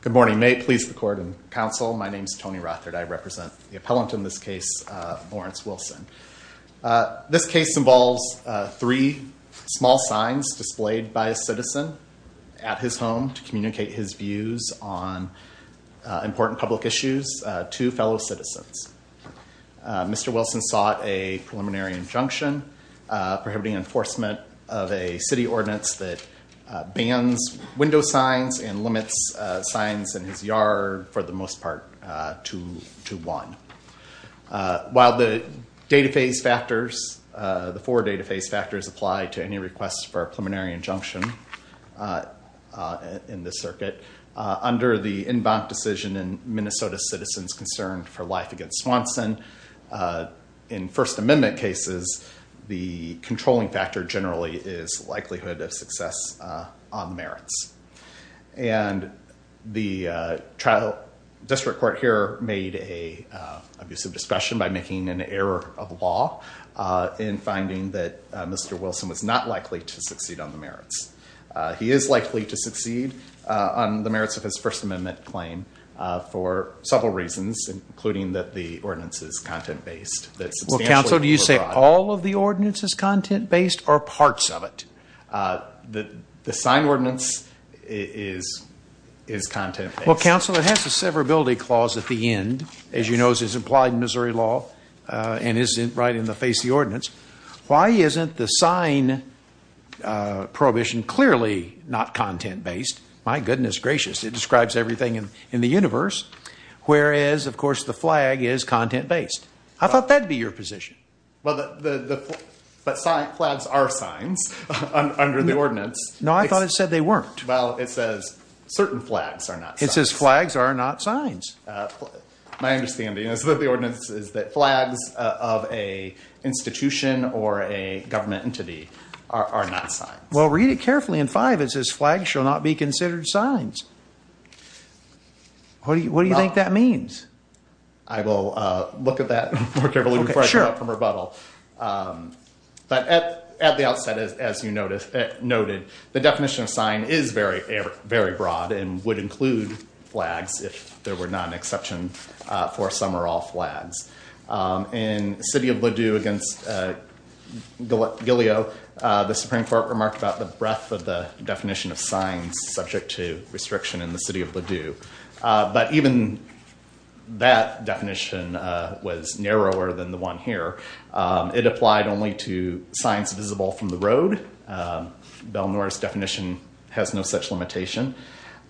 Good morning. May it please the Court and Council, my name is Tony Rothard. I represent the appellant in this case, Lawrence Wilson. This case involves three small signs displayed by a citizen at his home to communicate his views on important public issues to fellow citizens. Mr. Wilson sought a preliminary injunction prohibiting enforcement of a city ordinance that bans window signs and limits signs in his yard for the most part to one. While the four data phase factors apply to any request for a preliminary injunction in the circuit, under the en banc decision in Minnesota Citizens Concerned for Life Against Swanson in First Amendment cases, the controlling factor generally is likelihood of success on the merits. And the district court here made an abusive discretion by making an error of law in finding that Mr. Wilson was not likely to succeed on the merits. He is likely to succeed on the merits of his First Amendment claim for several reasons, including that the ordinance is content-based. Well, Council, do you say all of the ordinance is content-based or parts of it? The signed ordinance is content-based. Well, Council, it has a severability clause at the end, as you know is implied in Missouri law and is right in the face of the ordinance. Why isn't the sign prohibition clearly not content-based? My goodness gracious, it describes everything in the universe. Whereas, of course, the flag is content-based. I thought that'd be your position. But flags are signs under the ordinance. No, I thought it said they weren't. Well, it says certain flags are not signs. It says flags are not signs. My understanding is that the ordinance is that flags of an institution or a government entity are not signs. Well, read it carefully in five. It says flags shall not be considered signs. What do you think that means? I will look at that more carefully before I come out from rebuttal. But at the outset, as you noted, the definition of sign is very broad and would include flags if there were not an exception for some or all flags. In City of Ladew against Gileo, the Supreme Court remarked about the breadth of the definition of signs subject to restriction in the City of Ladew. But even that definition was narrower than the one here. It applied only to signs visible from the road. Bell Norris definition has no such limitation.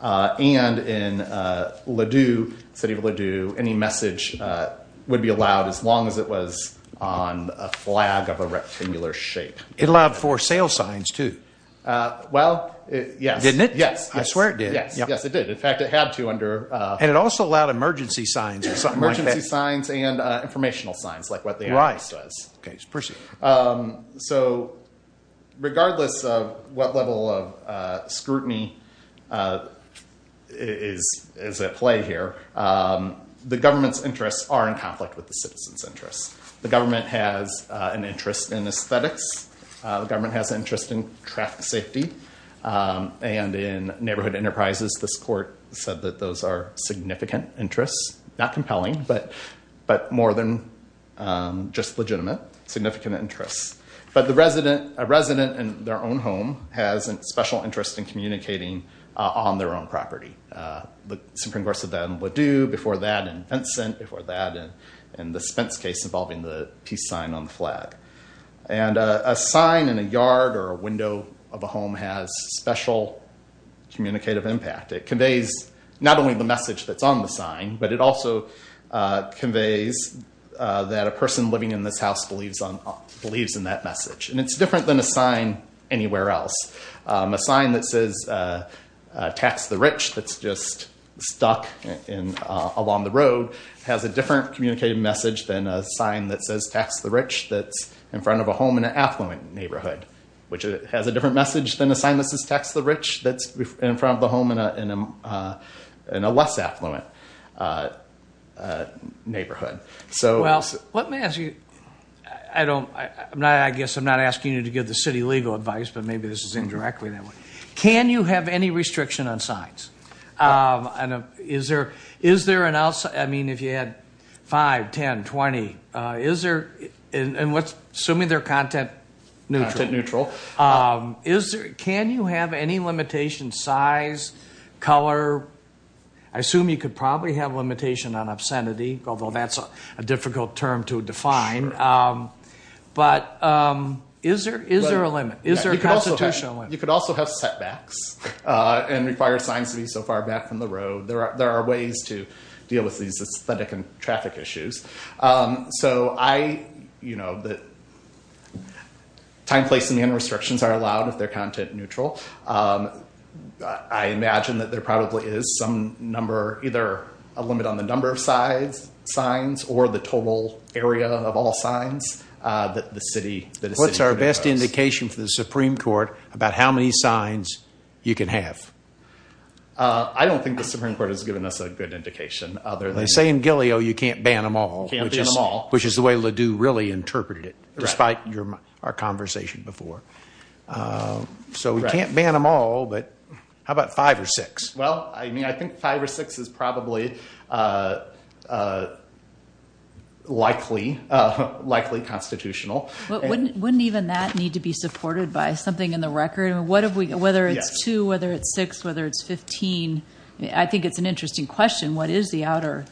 And in Ladew, City of Ladew, any message would be allowed as long as it was on a flag of a rectangular shape. It allowed for sale signs, too. Well, yes. Didn't it? Yes. I swear it did. Yes, it did. In fact, it had to under. And it also allowed emergency signs or something like that. Emergency signs and informational signs like what the ordinance does. So regardless of what level of scrutiny is at play here, the government's interests are in conflict with the citizens' interests. The government has an interest in aesthetics. The government has interest in traffic safety and in neighborhood enterprises. This court said that those are significant interests. Not compelling, but more than just legitimate, significant interests. But a resident in their own home has a special interest in communicating on their own property. The Supreme Court said that in Ladew, before that in Vincent, before that in the Spence case involving the peace sign on the flag. And a sign in a yard or a window of a home has special communicative impact. It conveys not only the message that's on the sign, but it also conveys that a person living in this house believes in that message. And it's different than a sign anywhere else. A sign that says tax the rich that's just stuck along the road has a different communicative message than a sign that says tax the rich that's in front of a home in an affluent neighborhood, which has a different message than a sign that says tax the rich that's in front of the home in a less affluent neighborhood. Well, let me ask you, I guess I'm not asking you to give the city legal advice, but maybe this is indirectly that way. Can you have any restriction on signs? I mean, if you had five, 10, 20, and assuming they're content neutral, can you have any limitation size, color? I assume you could probably have limitation on obscenity, although that's a difficult term to define. But is there a limit? Is there a constitutional limit? You could also have setbacks and require signs to be so far back from the road. There are ways to deal with these aesthetic and traffic issues. So time, place, and restrictions are allowed if they're content neutral. I imagine that there probably is some number, either a limit on the number of signs or the total area of all signs that the city- What's our best indication for the Supreme Court about how many signs you can have? I don't think the Supreme Court has given us a good indication other than- They say in Gileo, you can't ban them all, which is the way Ledoux really interpreted it, despite our conversation before. So we can't ban them all, but how about five or six? Well, I mean, I think five or six is probably likely constitutional. Wouldn't even that need to be supported by something in the record? Whether it's two, whether it's six, whether it's 15, I think it's an interesting question. What is the outer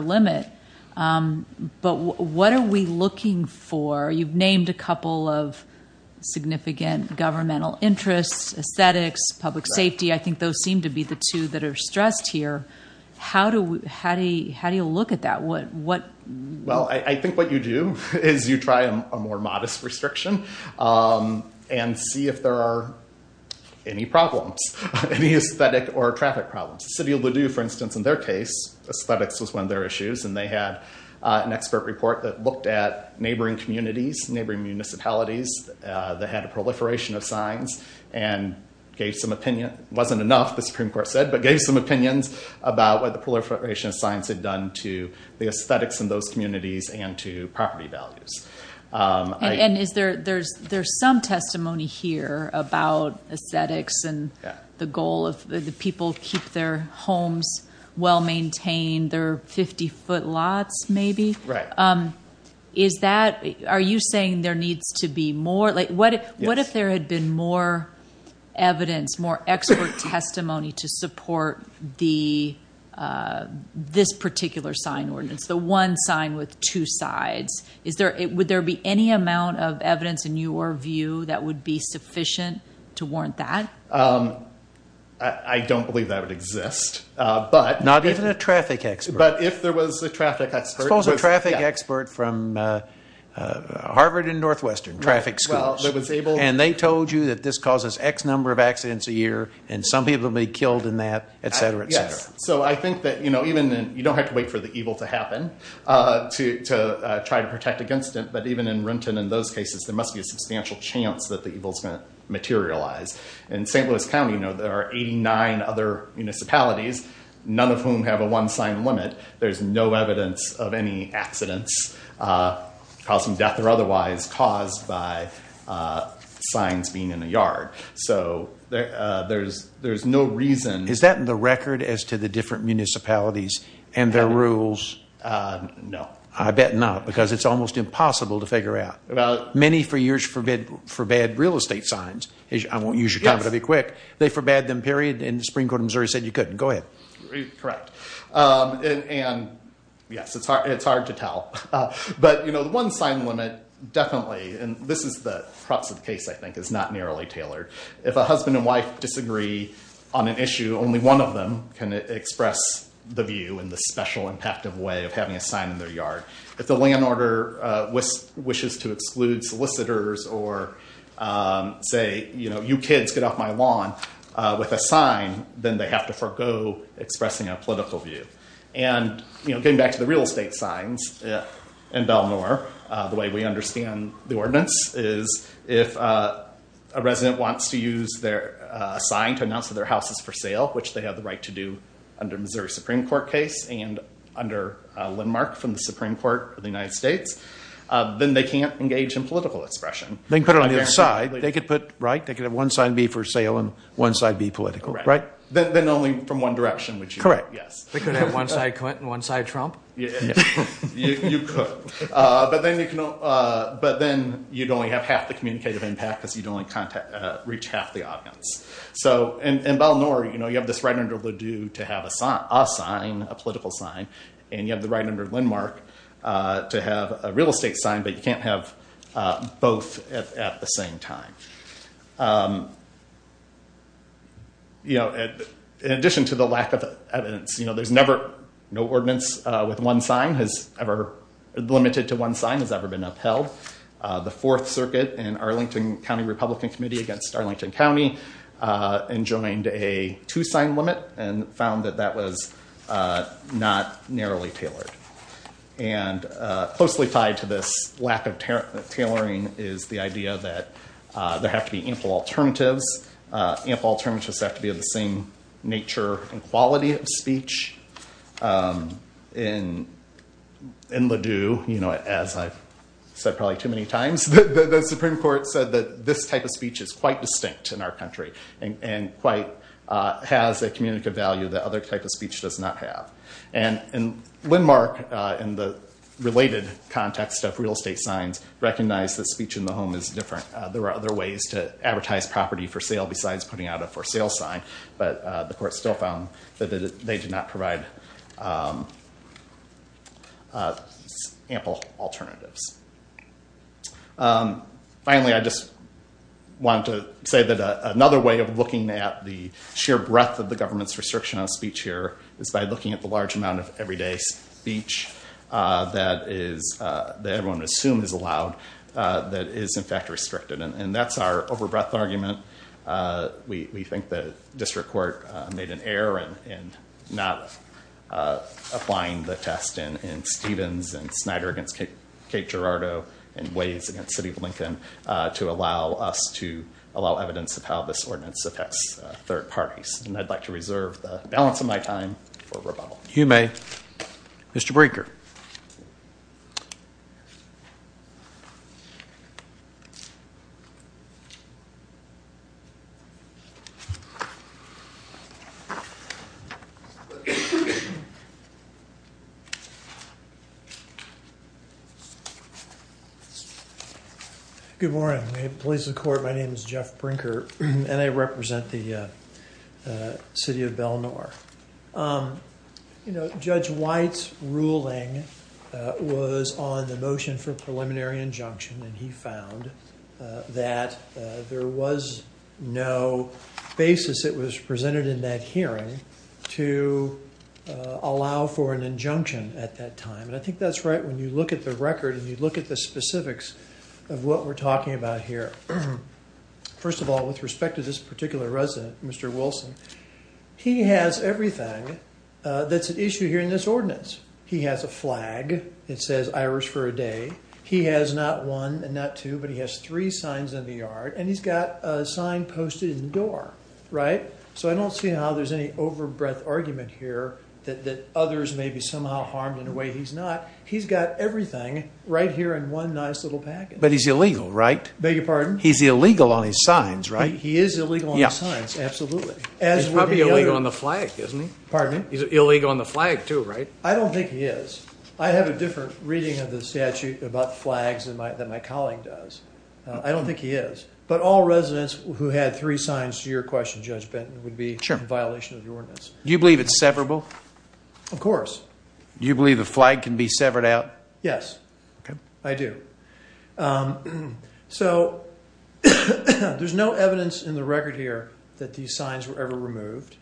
limit? But what are we looking for? You've named a couple of significant governmental interests, aesthetics, public safety. I think those seem to be the two that are stressed here. How do you look at that? Well, I think what you do is you try a more modest restriction and see if there are any problems, any aesthetic or traffic problems. The city of Ledoux, for instance, in their case, aesthetics was one of their issues, and they had an expert report that looked at neighboring communities, neighboring municipalities that had a proliferation of signs and gave some opinion. It wasn't enough, the Supreme Court said, but gave some opinions about what the proliferation of signs had done to the aesthetics in those communities and to property values. And there's some testimony here about aesthetics and the goal of the people keep their homes well-maintained, their 50-foot lots maybe. Are you saying there needs to be more? What if there had been more evidence, more expert testimony to support this particular sign ordinance, the one sign with two sides? Would there be any amount of evidence in your view that would be sufficient to warrant that? I don't believe that would exist, but- Not even a traffic expert. But if there was a traffic expert- Harvard and Northwestern, traffic schools. And they told you that this causes X number of accidents a year, and some people may be killed in that, et cetera, et cetera. So I think that you don't have to wait for the evil to happen to try to protect against it, but even in Renton in those cases, there must be a substantial chance that the evil's going to materialize. In St. Louis County, there are 89 other municipalities, none of whom have a one accidents, causing death or otherwise, caused by signs being in a yard. So there's no reason- Is that in the record as to the different municipalities and their rules? No. I bet not, because it's almost impossible to figure out. Many for years forbid real estate signs. I won't use your time, but I'll be quick. They forbade them, period, and the Supreme Court of Missouri said you couldn't. Go ahead. Correct. And yes, it's hard to tell, but the one sign limit, definitely, and this is the crux of the case, I think, is not narrowly tailored. If a husband and wife disagree on an issue, only one of them can express the view in the special, impactive way of having a sign in their yard. If the land order wishes to exclude solicitors or say, you kids get off my lawn with a sign, then they have to forego expressing a political view. And getting back to the real estate signs in Belmore, the way we understand the ordinance is if a resident wants to use their sign to announce that their house is for sale, which they have the right to do under Missouri Supreme Court case and under landmark from the Supreme Court of the United States, then they can't engage in political expression. They can put it on the other side. They could put, right, they could have one sign B for sale and one side B political, right? Then only from one direction, which you are. Correct. Yes. They could have one side Clinton, one side Trump? You could, but then you'd only have half the communicative impact because you'd only reach half the audience. So in Belmore, you have this right under Ledoux to have a sign, a political sign, and you have the right under landmark to have a real estate sign, but you can't have both at the same time. You know, in addition to the lack of evidence, you know, there's never no ordinance with one sign has ever limited to one sign has ever been upheld. The fourth circuit and Arlington County Republican Committee against Arlington County enjoined a two sign limit and found that that was not narrowly tailored and closely tied to this tailoring is the idea that there have to be ample alternatives. Ample alternatives have to be of the same nature and quality of speech. In Ledoux, you know, as I've said probably too many times, the Supreme Court said that this type of speech is quite distinct in our country and quite has a communicative value that other type speech does not have. And in Windmark, in the related context of real estate signs, recognize that speech in the home is different. There are other ways to advertise property for sale besides putting out a for sale sign, but the court still found that they did not provide ample alternatives. Finally, I just want to say that another way of looking at the sheer breadth of the government's restriction on speech here is by looking at the large amount of everyday speech that is, that everyone would assume is allowed, that is in fact restricted. And that's our over breadth argument. We think that district court made an error in not applying the test in Stevens and Snyder against Cape Girardeau and Waze against City of Lincoln to allow us to allow evidence of how this ordinance affects third parties. And I'd like to reserve the balance of my time for rebuttal. If you may, Mr. Brinker. Good morning. Police and the court. My name is Jeff Brinker, and I represent the city of Bellnor. You know, Judge White's ruling was on the motion for preliminary injunction, and he found that there was no basis that was presented in that hearing to allow for an injunction at that time. And I think that's right when you look at the record and you look at the specifics of what we're talking about here. First of all, with respect to this particular resident, Mr. Wilson, he has everything that's at issue here in this ordinance. He has a flag that says Irish for a day. He has not one and not two, but he has three signs in the yard, and he's got a sign posted in the door, right? So I don't see how there's any over breadth argument here that others may be somehow harmed in a way he's not. He's got everything right here in one nice little package. But he's illegal, right? Beg your pardon? He's illegal on his signs, right? He is illegal on his signs, absolutely. He's probably illegal on the flag, isn't he? Pardon me? He's illegal on the flag too, right? I don't think he is. I have a different reading of the statute about flags than my colleague does. I don't think he is. But all residents who had three signs to your question, Judge Benton, would be in violation of the ordinance. Do you believe it's severable? Of course. Do you believe the flag can be severed out? Yes, I do. Um, so there's no evidence in the record here that these signs were ever removed.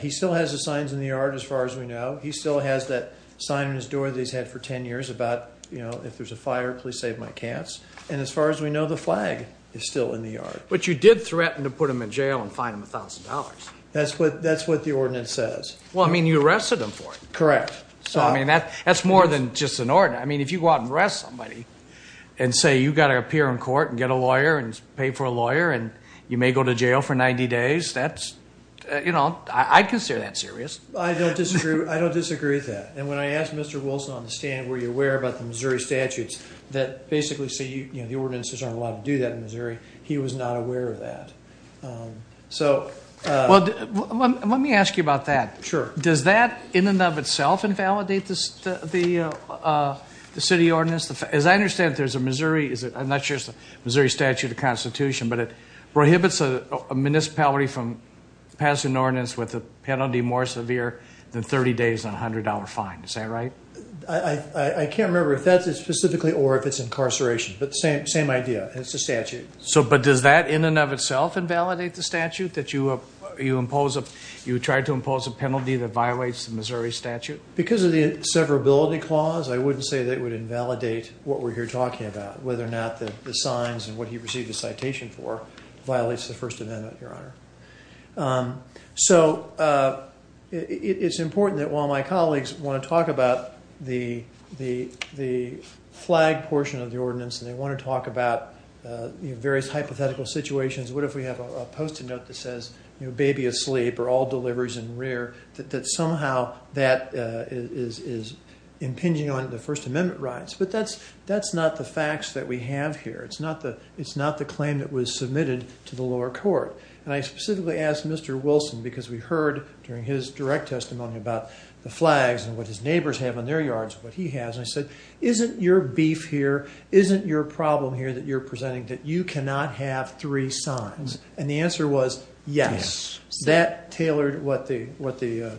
He still has the signs in the yard, as far as we know. He still has that sign on his door that he's had for 10 years about, you know, if there's a fire, please save my cats. And as far as we know, the flag is still in the yard. But you did threaten to put him in jail and fine him a thousand dollars. That's what the ordinance says. Well, I mean, you arrested him for it. Correct. So, I mean, that's more than just an ordinance. I mean, if you go out and arrest somebody, and say you've got to appear in court and get a lawyer and pay for a lawyer and you may go to jail for 90 days, that's, you know, I'd consider that serious. I don't disagree. I don't disagree with that. And when I asked Mr. Wilson on the stand, were you aware about the Missouri statutes that basically say, you know, the ordinances aren't allowed to do that in Missouri. He was not aware of that. So, well, let me ask you about that. Sure. Does that, in and of itself, invalidate the city ordinance? As I understand it, there's a Missouri, I'm not sure it's a Missouri statute or constitution, but it prohibits a municipality from passing an ordinance with a penalty more severe than 30 days and a $100 fine. Is that right? I can't remember if that's specifically or if it's incarceration, but same idea. It's a statute. But does that, in and of itself, invalidate the statute that you tried to impose a penalty that violates the Missouri statute? Because of the severability clause, I wouldn't say that it would invalidate what we're here talking about, whether or not the signs and what he received a citation for violates the first amendment, Your Honor. So it's important that while my colleagues want to talk about the flag portion of the ordinance and they want to talk about various hypothetical situations, what if we have a that says, baby asleep or all deliveries in rear, that somehow that is impinging on the first amendment rights. But that's not the facts that we have here. It's not the claim that was submitted to the lower court. And I specifically asked Mr. Wilson because we heard during his direct testimony about the flags and what his neighbors have on their yards, what he has. And I said, isn't your beef here, isn't your problem here that you're presenting that you cannot have three signs? And the answer was, yes, that tailored what the, what the.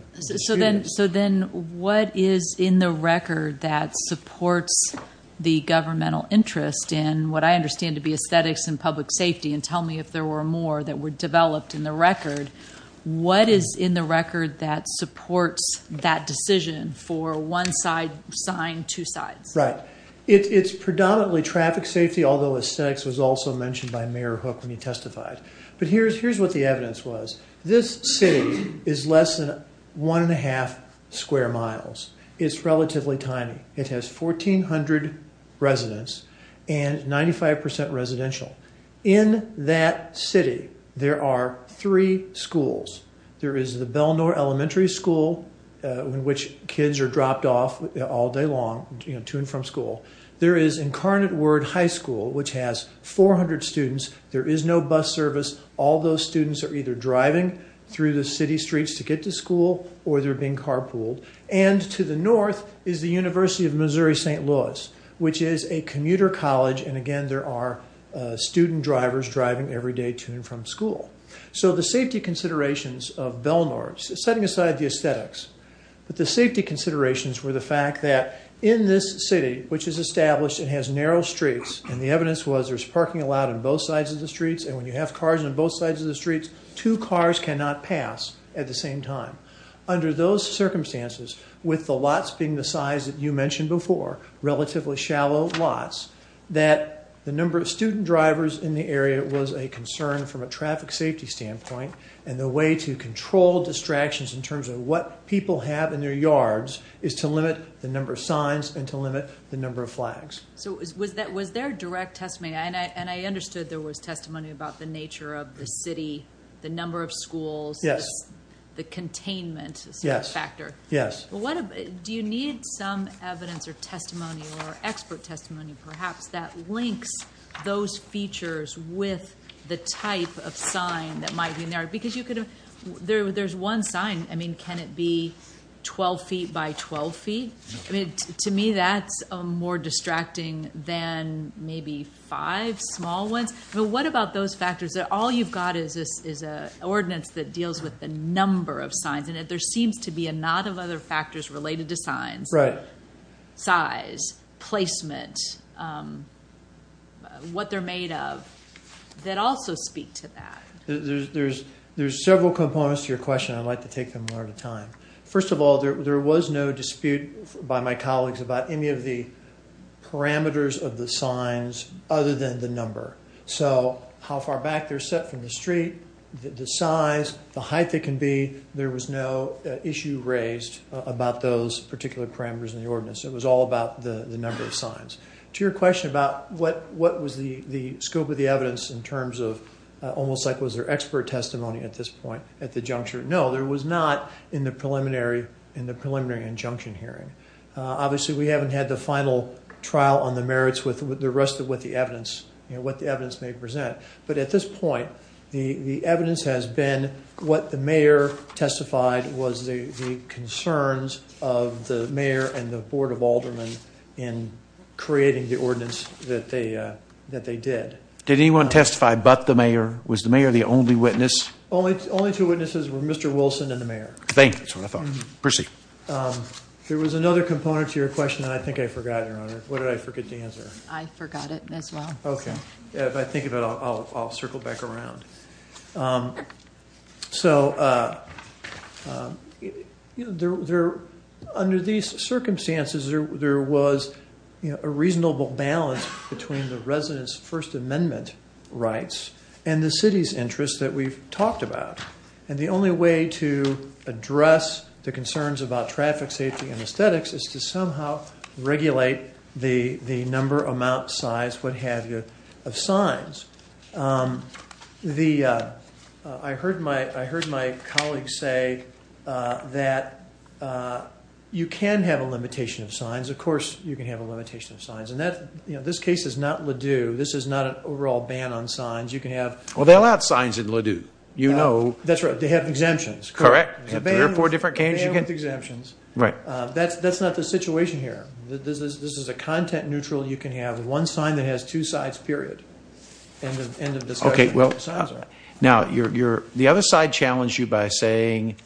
So then what is in the record that supports the governmental interest in what I understand to be aesthetics and public safety? And tell me if there were more that were developed in the record. What is in the record that supports that decision for one side sign, two sides? Right. It's predominantly traffic safety, although aesthetics was also mentioned by Mayor Hook when he testified. But here's, here's what the evidence was. This city is less than one and a half square miles. It's relatively tiny. It has 1,400 residents and 95% residential. In that city, there are three schools. There is the Bell Nor Elementary School in which kids are dropped off all day long, you know, to and from school. There is Incarnate Word High School, which has 400 students. There is no bus service. All those students are either driving through the city streets to get to school or they're being carpooled. And to the north is the University of Missouri-St. Louis, which is a commuter college. And again, there are student drivers driving every day to and from school. So the safety considerations of Bell Nor, setting aside the aesthetics, but the safety considerations were the fact that in this city, which is established, it has narrow streets. And the evidence was there's parking allowed on both sides of the streets. And when you have cars on both sides of the streets, two cars cannot pass at the same time. Under those circumstances, with the lots being the size that you mentioned before, relatively shallow lots, that the number of student drivers in the area was a concern from a traffic safety standpoint. And the way to control distractions in terms of what people have in their yards is to limit the number of signs and to limit the number of flags. So was there direct testimony? And I understood there was testimony about the nature of the city, the number of schools, the containment factor. Yes. Do you need some evidence or testimony or expert testimony perhaps that links those features with the type of sign that might be in there? Because there's one sign. I mean, can it be 12 feet by 12 feet? I mean, to me, that's more distracting than maybe five small ones. But what about those factors that all you've got is an ordinance that deals with the number of signs in it? There seems to be a lot of other factors related to signs. Right. Size, placement, what they're made of that also speak to that. There's several components to your question. I'd like to take them one at a time. First of all, there was no dispute by my colleagues about any of the parameters of the signs other than the number. So how far back they're set from the street, the size, the height they can be. There was no issue raised about those particular parameters in the ordinance. It was all about the number of signs. To your question about what was the scope of the evidence in terms of almost like was there expert testimony at this point at the juncture? No, there was not in the preliminary injunction hearing. Obviously, we haven't had the final trial on the merits with the rest of what the evidence may present. But at this point, the evidence has been what the mayor testified was the concerns of the mayor and the Board of Aldermen in creating the ordinance that they did. Did anyone testify but the mayor? Was the mayor the only witness? Only two witnesses were Mr. Wilson and the mayor. There was another component to your question that I think I forgot, Your Honor. What did I forget to answer? I forgot it as well. Okay, if I think about it, I'll circle back around. So under these circumstances, there was a reasonable balance between the residents' First Amendment rights and the city's interests that we've talked about. And the only way to address the concerns about traffic safety and aesthetics is to somehow regulate the number, amount, size, what have you, of signs. I heard my colleagues say that you can have a limitation of signs. Of course, you can have a limitation of signs. This case is not Ladue. This is not an overall ban on signs. You can have... Well, they allowed signs in Ladue. You know... That's right. They have exemptions. Correct. There are four different cases. Ban with exemptions. Right. That's not the situation here. This is a content-neutral. You can have one sign that has two sides, period. The other side challenged you by saying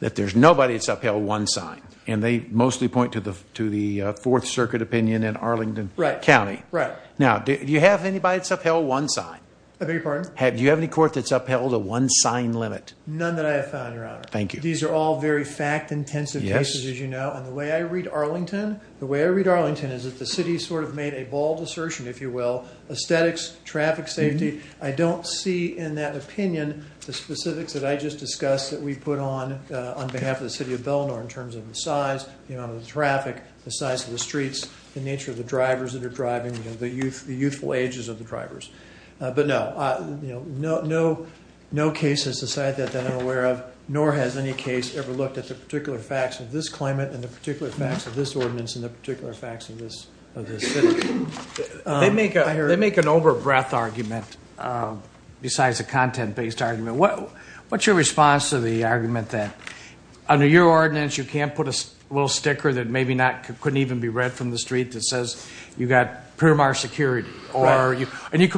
that there's nobody that's upheld one sign. And they mostly point to the Fourth Circuit opinion in Arlington County. Right. Now, do you have anybody that's upheld one sign? I beg your pardon? Do you have any court that's upheld a one-sign limit? None that I have found, Your Honor. Thank you. These are all very fact-intensive cases, as you know. And the way I read Arlington, the way I read Arlington is that the city sort of made a bald assertion, if you will, aesthetics, traffic safety. I don't see in that opinion the specifics that I just discussed that we put on on behalf of the city of Bellinor in terms of the size, the amount of traffic, the size of the streets, the nature of the drivers that are driving, the youthful ages of the drivers. But no, no cases aside that I'm aware of, nor has any case ever looked at the particular facts of this claimant and the particular facts of this ordinance and the particular facts of this city. They make an over-breath argument besides a content-based argument. What's your response to the argument that under your ordinance, you can't put a little street that says you've got Primark security, and you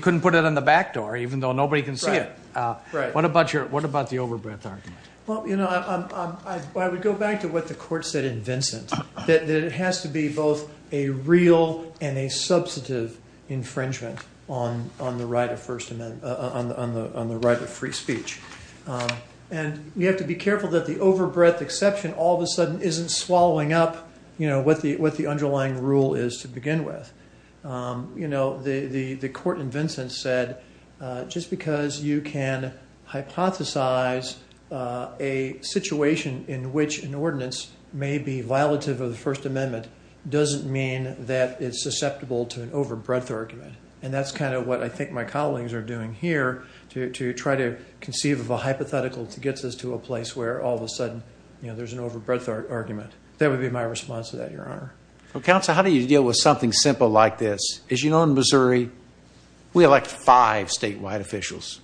couldn't put it on the back door, even though nobody can see it. What about the over-breath argument? Well, I would go back to what the court said in Vincent, that it has to be both a real and a substantive infringement on the right of free speech. And we have to be careful that the over-breath exception all of a sudden isn't swallowing up what the underlying rule is to begin with. The court in Vincent said, just because you can hypothesize a situation in which an ordinance may be violative of the First Amendment doesn't mean that it's susceptible to an over-breath argument. And that's kind of what I think my colleagues are doing here to try to conceive of a hypothetical to get us to a place where all of a sudden there's an over-breath argument. That would be my response to that, Your Honor. Well, Counsel, how do you deal with something simple like this? As you know, in Missouri, we elect five statewide officials.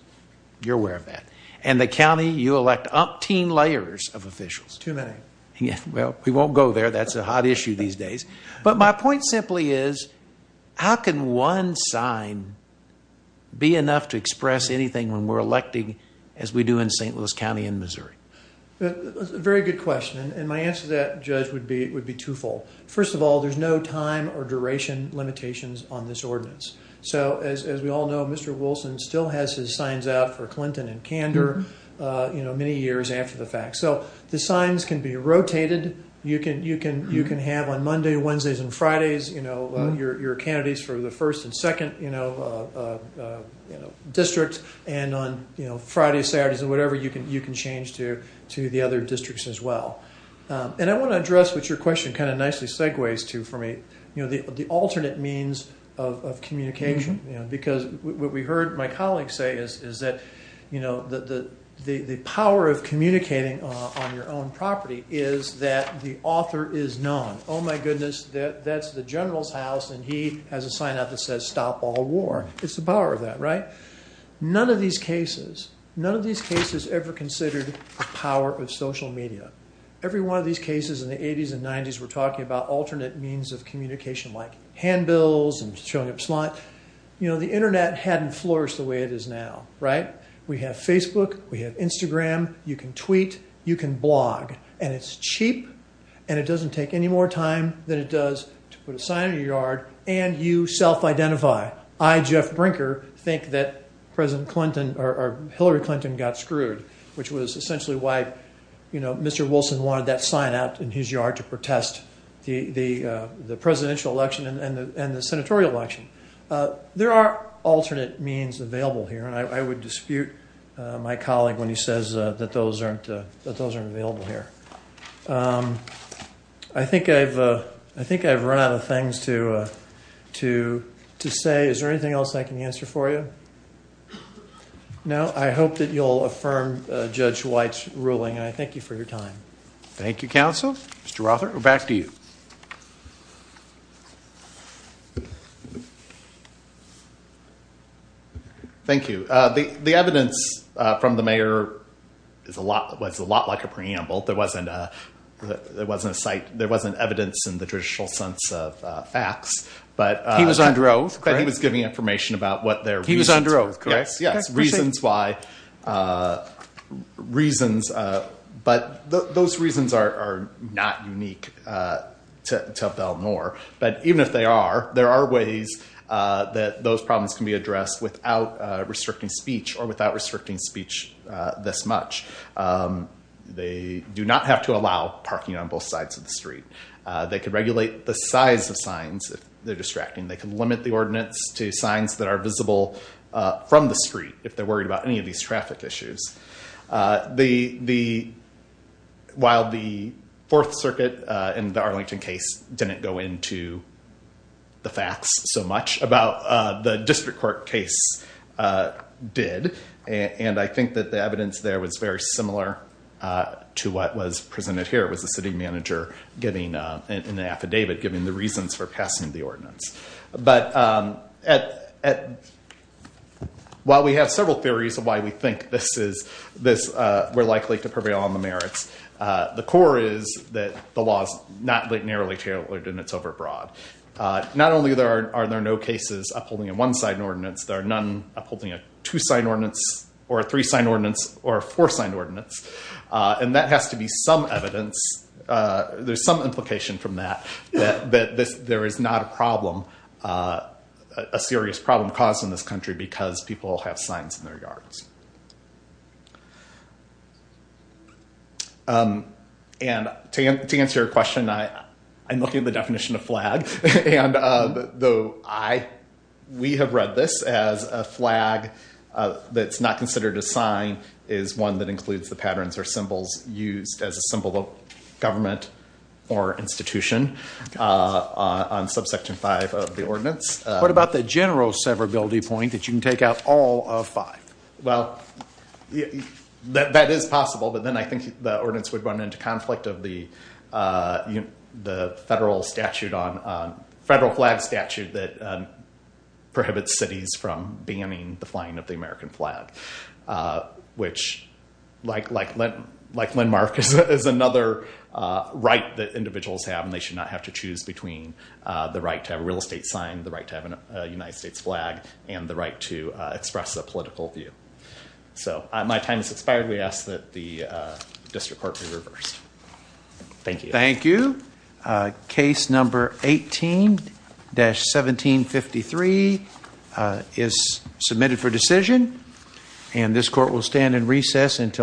You're aware of that. And the county, you elect umpteen layers of officials. Too many. Well, we won't go there. That's a hot issue these days. But my point simply is, how can one sign be enough to express anything when we're electing as we do in St. Louis County and Missouri? Very good question. And my answer to that, Judge, would be twofold. First of all, there's no time or duration limitations on this ordinance. So as we all know, Mr. Wilson still has his signs out for Clinton and Kander many years after the fact. So the signs can be rotated. You can have on Monday, Wednesdays, and Fridays your candidates for the first and second district. And on Fridays, Saturdays, and whatever, you can change to the other districts as well. And I want to address what your question kind of nicely segues to for me, the alternate means of communication. Because what we heard my colleagues say is that the power of communicating on your own property is that the author is known. Oh, my goodness, that's the general's house. And he has a sign out that says, stop all war. It's the power of that, right? None of these cases, none of these cases ever considered the power of social media. Every one of these cases in the 80s and 90s were talking about alternate means of communication like handbills and showing up slot. You know, the internet hadn't flourished the way it is now, right? We have Facebook. We have Instagram. You can tweet. You can blog. And it's cheap, and it doesn't take any more time than it does to put a sign in your yard and you self-identify. I, Jeff Brinker, think that President Clinton or Hillary Clinton got screwed, which was essentially why, you know, Mr. Wilson wanted that sign out in his yard to protest the presidential election and the senatorial election. There are alternate means available here. And I would dispute my colleague when he says that those aren't available here. Um, I think I've, uh, I think I've run out of things to, uh, to, to say. Is there anything else I can answer for you? No. I hope that you'll affirm Judge White's ruling. And I thank you for your time. Thank you, counsel. Mr. Rothert, we're back to you. Thank you. The evidence from the mayor is a lot, was a lot like a preamble. There wasn't a, there wasn't a site, there wasn't evidence in the judicial sense of, uh, facts, but, uh. He was under oath, correct? But he was giving information about what their reasons were. He was under oath, correct? Yes. Yes. Reasons why, uh, reasons, uh, but those reasons are, are not unique, uh, to, to Bell Moore. But even if they are, there are ways, uh, that those problems can be addressed without, uh, restricting speech or without restricting speech, uh, this much. Um, they do not have to allow parking on both sides of the street. Uh, they could regulate the size of signs. If they're distracting, they can limit the ordinance to signs that are visible, uh, from the street. If they're worried about any of these traffic issues, uh, the, the, while the fourth circuit, uh, and the Arlington case didn't go into the facts so much about, uh, the district court case, uh, did. And I think that the evidence there was very similar, uh, to what was presented here. It was the city manager giving, uh, an affidavit giving the reasons for passing the ordinance. But, um, at, at, while we have several theories of why we think this is, this, uh, we're likely to prevail on the merits, uh, the core is that the law is not narrowly tailored and it's overbroad. Uh, not only there are, are there no cases upholding a one-side ordinance, there are none upholding a two-side ordinance or a three-side ordinance or a four-side ordinance. Uh, and that has to be some evidence. Uh, there's some implication from that, that, that this, there is not a problem, uh, a serious problem caused in this country because people have signs in their yards. Um, and to, to answer your question, I, I'm looking at the definition of flag and, uh, the, I, we have read this as a flag, uh, that's not considered a sign is one that includes the patterns or symbols used as a symbol of government or institution, uh, on subsection five of the ordinance. Uh, what about the general severability point that you can take out all of five? Well, yeah, that, that is possible, but then I think the ordinance would run into conflict of the, uh, the federal statute on, um, federal flag statute that, um, prohibits cities from banning the flying of the American flag. Uh, which like, like, like landmark is, is another, uh, right that individuals have, and they should not have to choose between, uh, the right to have a real estate sign, the right to have a United States flag and the right to, uh, express a political view. So my time is expired. We ask that the, uh, district court be reversed. Thank you. Thank you. Uh, case number 18 dash 1753, uh, is submitted for decision and this court will stand in recess until.